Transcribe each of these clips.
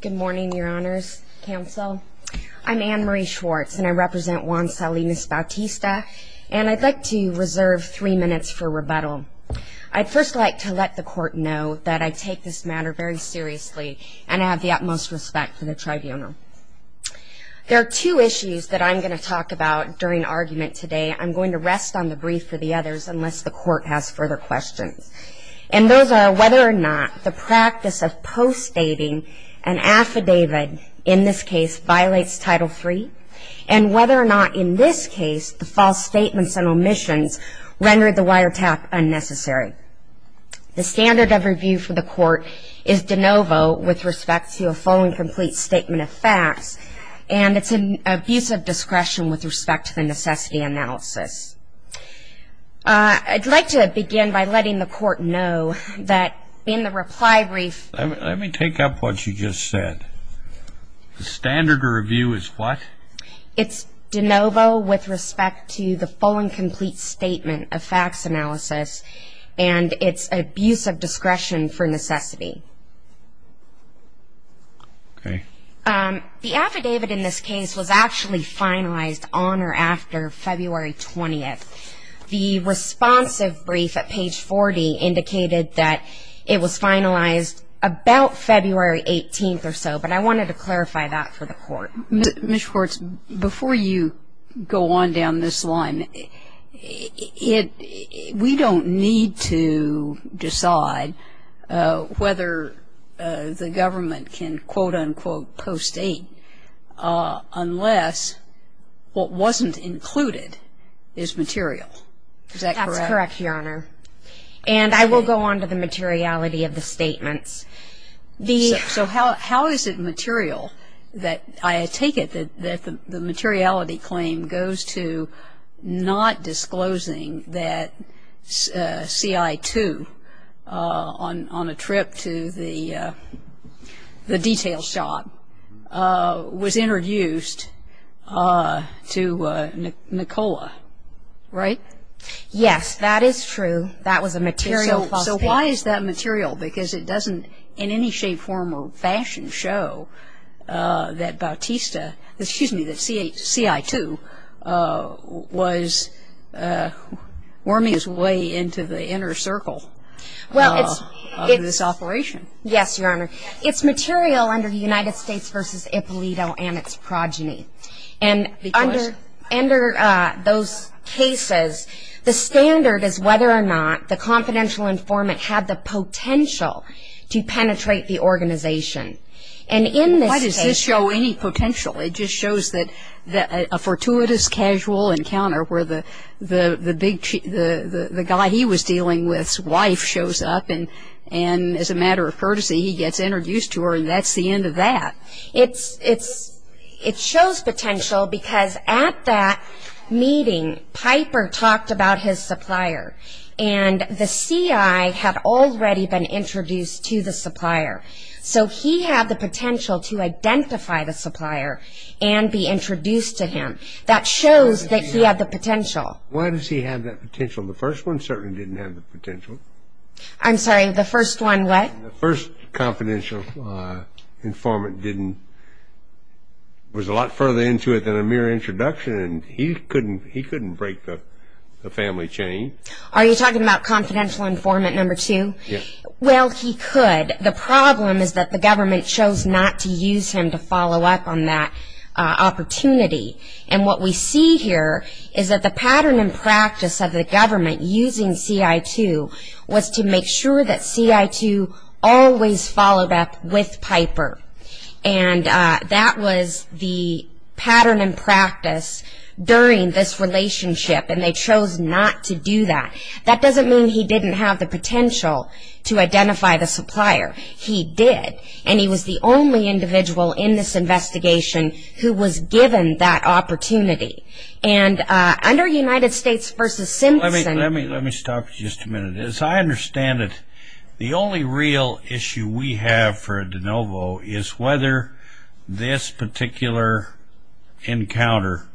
Good morning your honors, counsel. I'm Anne-Marie Schwartz and I represent Juan Salinas Bautista and I'd like to reserve three minutes for rebuttal. I'd first like to let the court know that I take this matter very seriously and I have the utmost respect for the tribunal. There are two issues that I'm going to talk about during argument today. I'm going to rest on the brief for the others unless the court has further questions and those are whether or not the practice of post-stating an affidavit in this case violates Title III and whether or not in this case the false statements and omissions rendered the wiretap unnecessary. The standard of review for the court is de novo with respect to a full and complete statement of facts and it's an abuse of discretion with respect to the necessity analysis. I'd like to begin by letting the court know that in the reply brief... Let me take up what you just said. The standard of review is what? It's de novo with respect to the full and complete statement of facts analysis and it's abuse of discretion for necessity. Okay. The affidavit in this case was actually finalized on or after February 20th. The responsive brief at page 40 indicated that it was finalized about February 18th or so but I wanted to clarify that for the court. Ms. Schwartz, before you go on down this line, we don't need to decide whether the government can quote-unquote post-state unless what wasn't included is material. Is that correct? That's correct, Your Honor. And I will go on to the materiality of the statements. So how is it material that I take it that the materiality claim goes to not disclosing that CI-2 on a trip to the detail shop was introduced to Nikola? Right? Yes, that is true. That was a material post-state. So why is that material? Because it doesn't in any shape, form or fashion show that CI-2 was worming its way into the inner circle of this operation. Yes, Your Honor. It's material under the United States v. Ippolito and its progeny. And under those cases, the standard is whether or not the confidential informant had the potential to penetrate the organization. And in this case It doesn't show any potential. It just shows that a fortuitous, casual encounter where the guy he was dealing with's wife shows up and as a matter of courtesy, he gets introduced to her and that's the end of that. It shows potential because at that meeting, Piper talked about his supplier. And the CI had already been introduced to the supplier. So he had the potential to identify the supplier and be introduced to him. That shows that he had the potential. Why does he have that potential? The first one certainly didn't have the potential. I'm sorry, the first one what? The first confidential informant was a lot further into it than a mere introduction and he couldn't break the family chain. Are you talking about confidential informant number two? Yes. Well, he could. The problem is that the government chose not to use him to follow up on that opportunity. And what we see here is that the pattern and practice of the government using CI2 was to make sure that CI2 always followed up with Piper. And that was the pattern and practice during this relationship and they chose not to do that. That doesn't mean he didn't have the potential to identify the supplier. He did. And he was the only individual in this investigation who was given that opportunity. And under United States versus Simpson... Let me stop you just a minute. As I understand it, the only real issue we have for a de novo is whether this particular encounter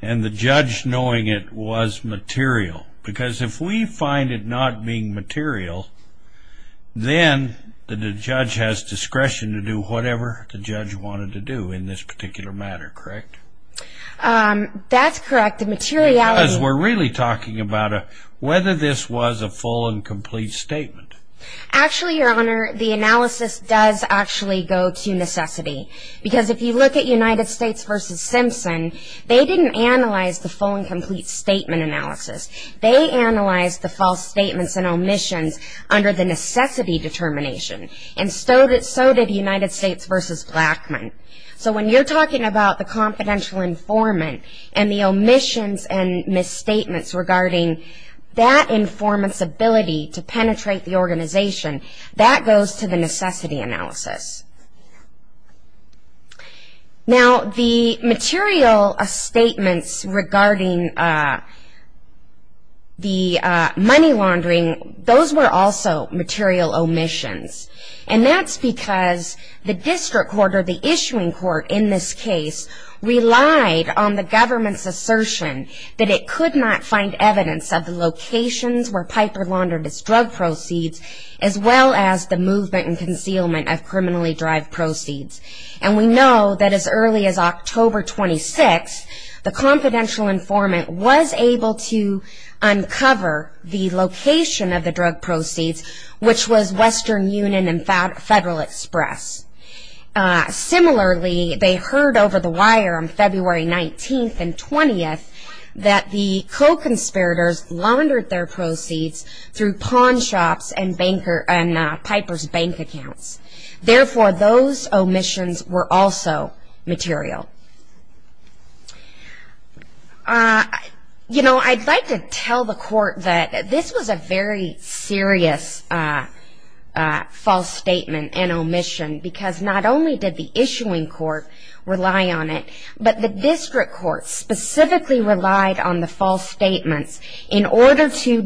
and the judge knowing it was material. Because if we find it not being material, then the judge has discretion to do whatever the judge wanted to do in this particular matter, correct? That's correct. The materiality... Because we're really talking about whether this was a full and complete statement. Actually, your honor, the analysis does actually go to necessity. Because if you look at United States versus Blackmun, they don't analyze the full and complete statement analysis. They analyze the false statements and omissions under the necessity determination. And so did United States versus Blackmun. So when you're talking about the confidential informant and the omissions and misstatements regarding that informant's ability to penetrate the organization, that goes to the necessity analysis. Now, the material statements regarding the money laundering, those were also material omissions. And that's because the district court, or the issuing court in this case, relied on the government's assertion that it could not find evidence of the locations where Piper laundered his drug proceeds, as well as the movement and concealment of criminally derived proceeds. And we know that as early as October 26th, the confidential informant was able to uncover the location of the drug proceeds, which was Western Union and Federal Express. Similarly, they heard over the wire on February 19th and 20th that the co-conspirators laundered their proceeds through pawn shops and Piper's bank accounts. Therefore, those omissions were also material. You know, I'd like to tell the court that this was a very serious false statement and omission, because not only did the issuing court rely on it, but the government specifically relied on the false statements in order to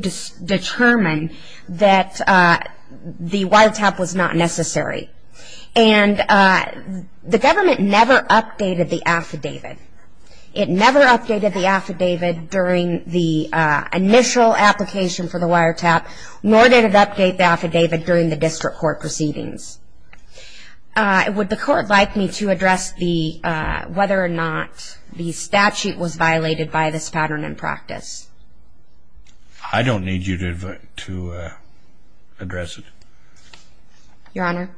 determine that the wiretap was not necessary. And the government never updated the affidavit. It never updated the affidavit during the initial application for the wiretap, nor did it update the affidavit during the district court proceedings. Would the court like me to address whether or not the statute was violated by this pattern in practice? I don't need you to address it. Your Honor?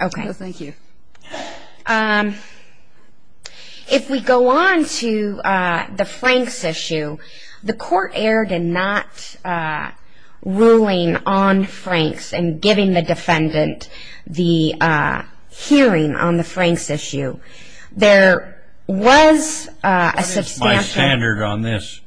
Okay. Thank you. If we go on to the Franks issue, the court erred in not ruling on Franks and giving the defendant the hearing on the Franks issue. There was a substantial... What is my standard on this?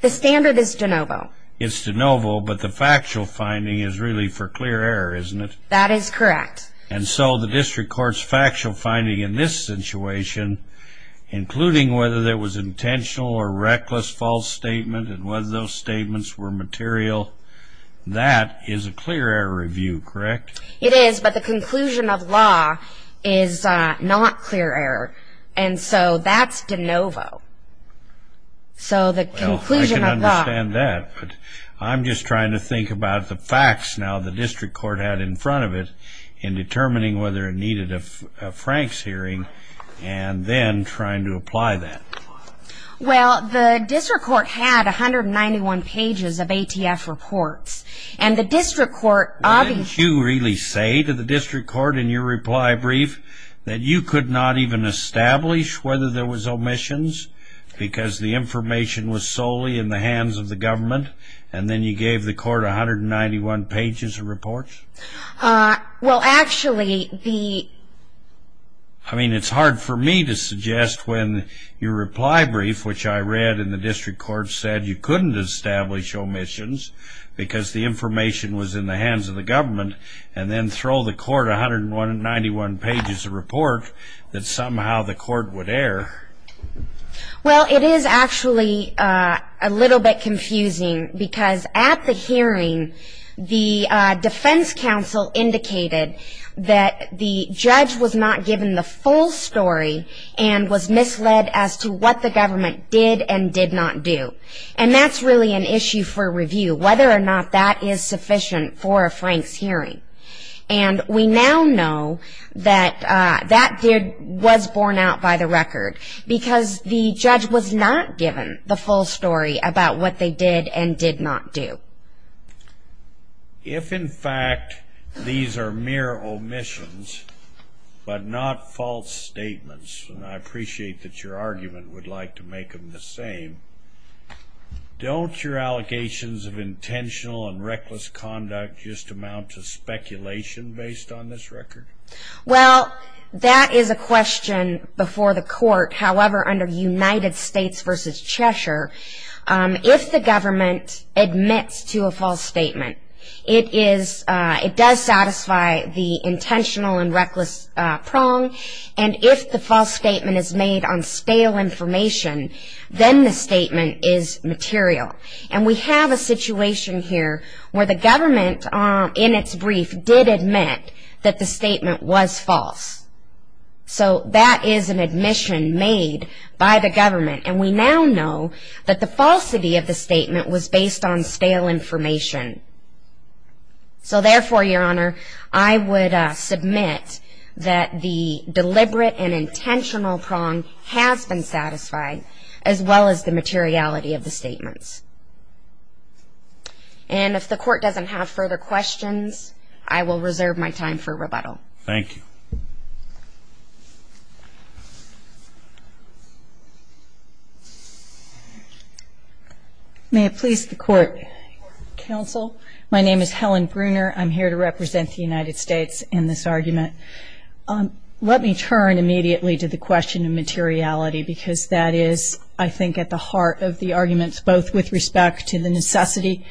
The standard is de novo. It's de novo, but the factual finding is really for clear error, isn't it? That is correct. And so the district court's factual finding in this situation, including whether there was intentional or reckless false statement and whether those statements were It is, but the conclusion of law is not clear error. And so that's de novo. I can understand that, but I'm just trying to think about the facts now the district court had in front of it in determining whether it needed a Franks hearing and then trying to apply that. Well, the district court had 191 pages of ATF reports. And the district court... Didn't you really say to the district court in your reply brief that you could not even establish whether there was omissions because the information was solely in the hands of the government and then you gave the court 191 pages of reports? Well, actually... I mean, it's hard for me to suggest when your reply brief, which I because the information was in the hands of the government and then throw the court 191 pages of report that somehow the court would err. Well, it is actually a little bit confusing because at the hearing, the defense counsel indicated that the judge was not given the full story and was misled as to what the or not that is sufficient for a Franks hearing. And we now know that that was borne out by the record because the judge was not given the full story about what they did and did not do. If in fact these are mere omissions, but not false statements, and I appreciate that your argument would like to make them the intentional and reckless conduct just amount to speculation based on this record? Well, that is a question before the court. However, under United States vs. Cheshire, if the government admits to a false statement, it does satisfy the intentional and reckless prong. And if the false statement is made on stale information, then the statement is material. And we have a situation here where the government in its brief did admit that the statement was false. So that is an admission made by the government. And we now know that the falsity of the statement was based on stale information. So therefore, your intentional prong has been satisfied, as well as the materiality of the statements. And if the court doesn't have further questions, I will reserve my time for rebuttal. Thank you. May it please the court. Counsel, my name is Helen Bruner. I'm here to represent the United States in this argument. Let me turn immediately to the question of materiality, because that is, I think, at the heart of the arguments, both with respect to the necessity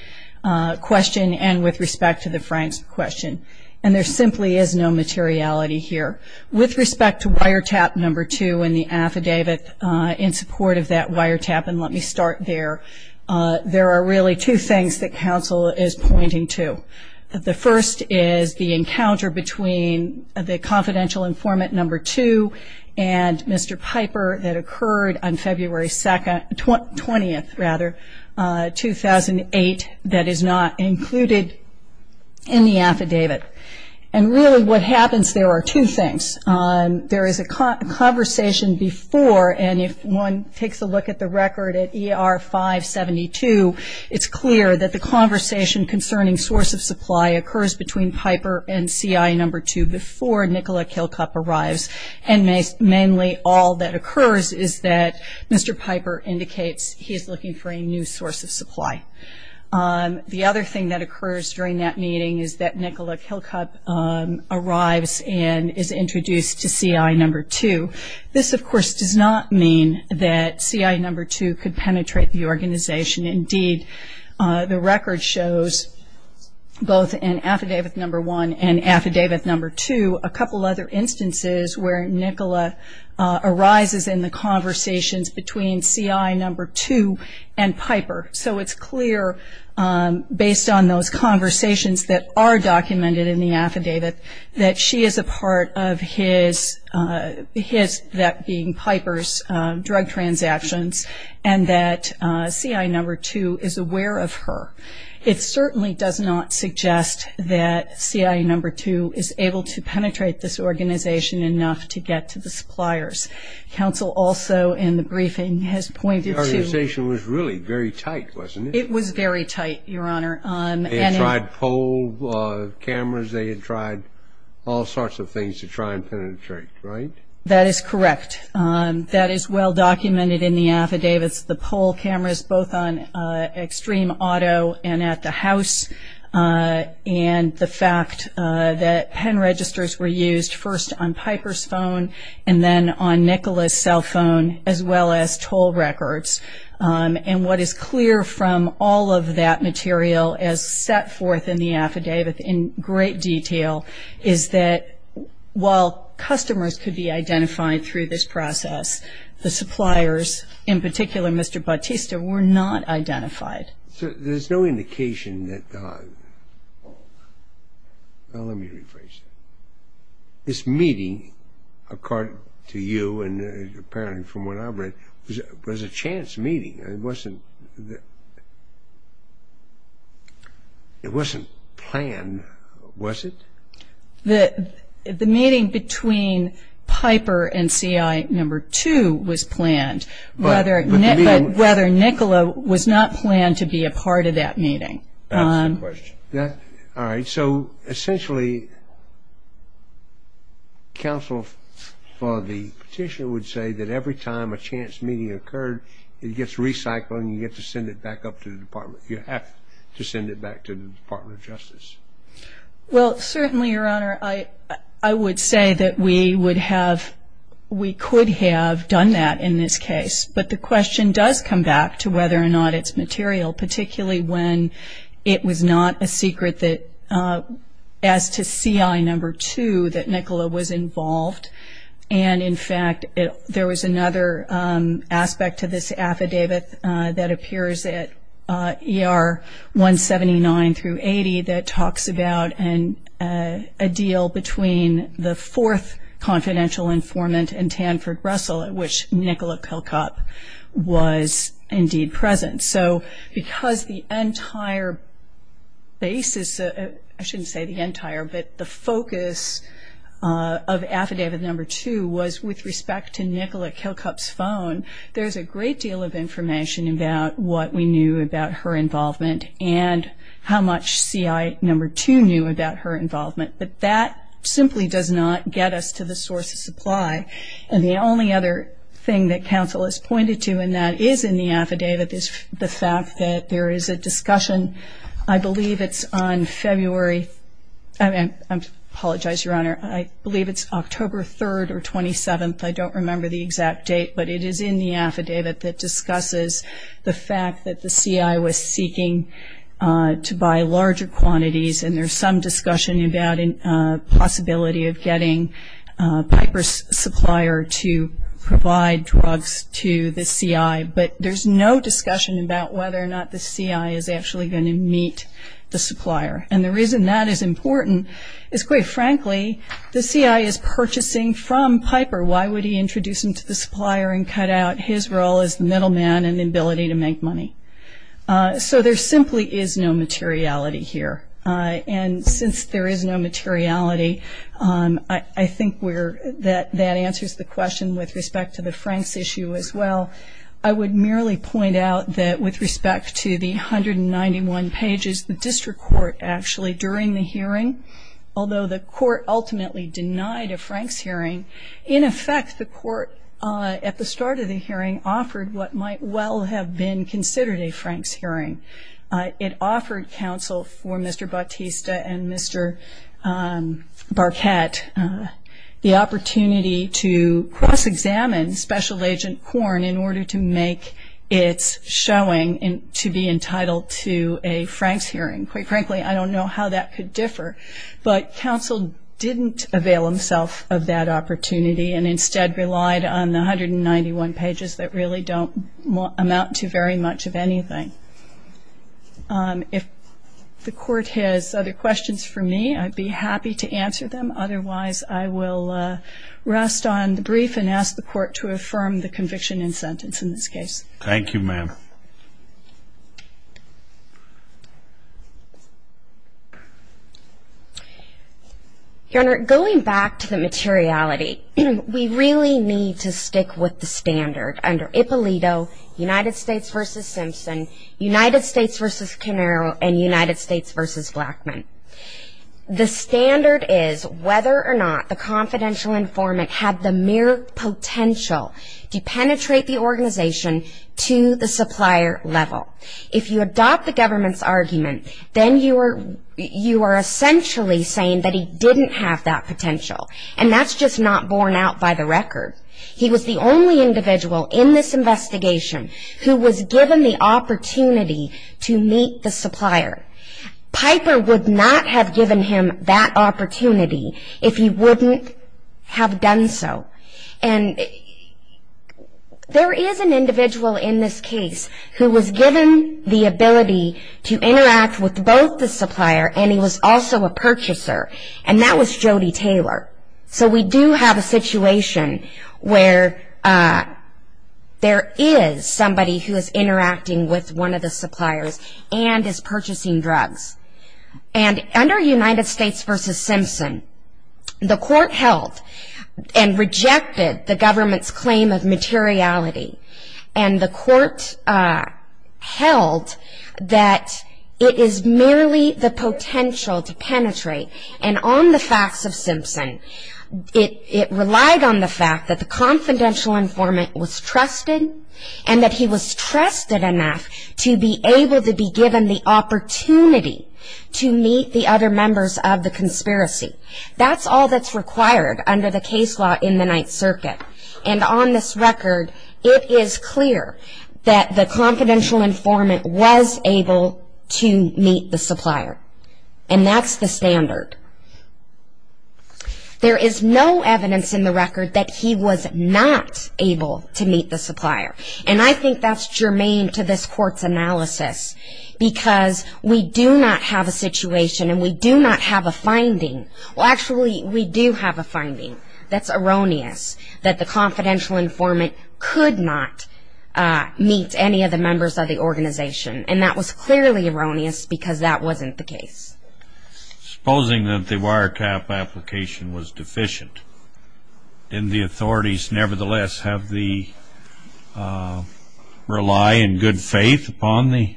question and with respect to the Franks question. And there simply is no materiality here. With respect to wiretap number two in the affidavit, in support of that wiretap, and let me start there, there are really two things that counsel is pointing to. The first is the encounter between the confidential informant number two and Mr. Piper that occurred on February 20, 2008, that is not included in the affidavit. And really what happens, there are two things. There is a conversation before, and if one takes a look at the affidavit, it is clear that the conversation concerning source of supply occurs between Piper and CI number two before Nicola Kilcup arrives. And mainly all that occurs is that Mr. Piper indicates he is looking for a new source of supply. The other thing that occurs during that meeting is that Nicola Kilcup arrives and is introduced to CI number two. This, of course, does not mean that the record shows both in affidavit number one and affidavit number two a couple other instances where Nicola arises in the conversations between CI number two and Piper. So it is clear, based on those conversations that are documented in the affidavit, that she is a part of his, that being Piper's, drug transactions and that CI number two is aware of her. It certainly does not suggest that CI number two is able to penetrate this organization enough to get to the suppliers. Counsel also in the briefing has pointed to The organization was really very tight, wasn't it? It was very tight, Your Honor. They had tried pole cameras. They had tried all sorts of things to try and penetrate, right? That is correct. That is well documented in the affidavits. The pole cameras both on Extreme Auto and at the house and the fact that pen registers were used first on Piper's phone and then on Nicola's cell phone as well as toll records. And what is clear from all of that material as set forth in the process, the suppliers, in particular Mr. Bautista, were not identified. So there is no indication that, well, let me rephrase that. This meeting, according to you and apparently from what I've read, was a chance meeting. It wasn't planned, was it? The meeting between Piper and CI number two was planned, but whether Nicola was not planned to be a part of that meeting. That's the question. All right. So essentially counsel for the petitioner would say that every time a chance meeting occurred, it gets recycled and you get to send it back up to the Department. You have to send it back to the Department of Justice. Well, certainly, Your Honor, I would say that we would have, we could have done that in this case. But the question does come back to whether or not it's material, particularly when it was not a secret as to CI number two that Nicola was involved. And in fact, there was another aspect to this and a deal between the fourth confidential informant and Tanford Russell, which Nicola Kilcup was indeed present. So because the entire basis, I shouldn't say the entire, but the focus of affidavit number two was with respect to Nicola Kilcup's phone, there's a great deal of information about what we knew about her involvement and how much CI number two knew about her involvement. But that simply does not get us to the source of supply. And the only other thing that counsel has pointed to, and that is in the affidavit, is the fact that there is a discussion, I believe it's on February, I apologize, Your Honor, I believe it's October 3rd or 27th, I don't remember the exact date, but it is in the affidavit that discusses the fact that the CI was seeking to buy larger quantities and there's some discussion about a possibility of getting Piper's supplier to provide drugs to the CI. But there's no discussion about whether or not the CI is actually going to meet the supplier. And the reason that is important is, quite frankly, the CI is purchasing from Piper. Why would he introduce him to the supplier and cut out his role as the middleman and ability to make money? So there simply is no materiality here. And since there is no materiality, I think that answers the question with respect to the Franks issue as well. I would merely point out that with respect to the 191 pages, the district court actually during the hearing, although the court ultimately denied a Franks hearing, in effect the court at the start of the hearing offered what might well have been considered a Franks hearing. It offered counsel for Mr. Bautista and Mr. Barquette the opportunity to cross-examine Special Agent Korn in order to make its showing to be entitled to a Franks hearing. Quite frankly, I don't know how that could differ. But counsel didn't avail himself of that opportunity and instead relied on the 191 pages that really don't amount to very much of anything. If the court has other questions for me, I'd be happy to answer them. Otherwise, I will rest on the brief and ask the court to affirm the conviction and sentence in this case. Thank you, ma'am. Your Honor, going back to the materiality, we really need to stick with the standard under Ippolito, United States v. Simpson, United States v. Canero, and United States v. Blackmun. The standard is whether or not the confidential informant had the mere potential to penetrate the organization to the supplier level. If you adopt the government's argument, then you are essentially saying that he didn't have that potential, and that's just not borne out by the record. He was the only individual in this investigation who was given the opportunity to meet the supplier. Piper would not have given him that ability to interact with both the supplier and he was also a purchaser, and that was Jody Taylor. So we do have a situation where there is somebody who is interacting with one of the suppliers and is purchasing drugs. And under United States v. Simpson, the court held and rejected the government's claim of materiality. And the court held that it is merely the potential to penetrate. And on the facts of Simpson, it relied on the fact that the confidential informant was trusted and that he was trusted enough to be able to be given the opportunity to meet the other members of the conspiracy. That's all that's clear that the confidential informant was able to meet the supplier. And that's the standard. There is no evidence in the record that he was not able to meet the supplier. And I think that's germane to this court's analysis because we do not have a situation and we do not have a finding. Well, actually, we do have a meet any of the members of the organization. And that was clearly erroneous because that wasn't the case. Supposing that the wiretap application was deficient, didn't the authorities nevertheless have the rely and good faith upon the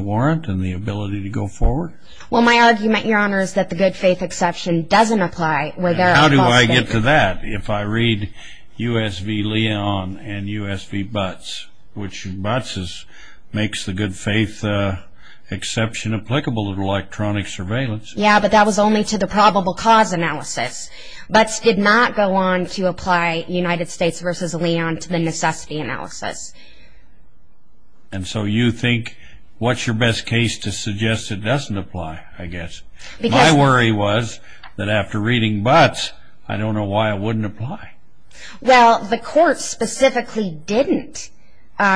warrant and the ability to go forward? Well, my argument, Your Honor, is that the good faith exception doesn't apply. How do I get to that if I read U.S. v. Leon and U.S. v. Butts, which Butts makes the good faith exception applicable to electronic surveillance? Yeah, but that was only to the probable cause analysis. Butts did not go on to apply United States v. Leon to the necessity analysis. And so you think what's your best case to suggest it doesn't apply, I guess? My worry was that after reading Butts, I don't know why it wouldn't apply. Well, the court specifically didn't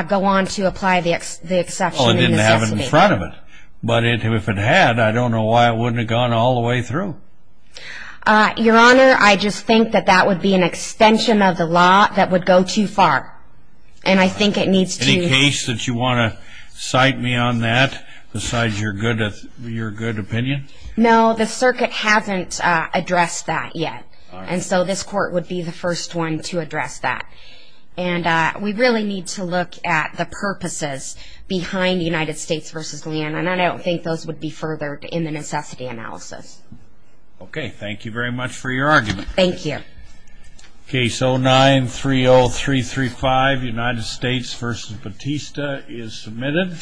go on to apply the exception in the necessity. Oh, it didn't have it in front of it. But if it had, I don't know why it wouldn't have gone all the way through. Your Honor, I just think that that would be an extension of the law that would go too far. And I think that's your good opinion? No, the circuit hasn't addressed that yet. And so this court would be the first one to address that. And we really need to look at the purposes behind United States v. Leon, and I don't think those would be furthered in the necessity analysis. Okay, thank you very much for your argument. Thank you. Case 09-30335, United States v. Batista, is submitted.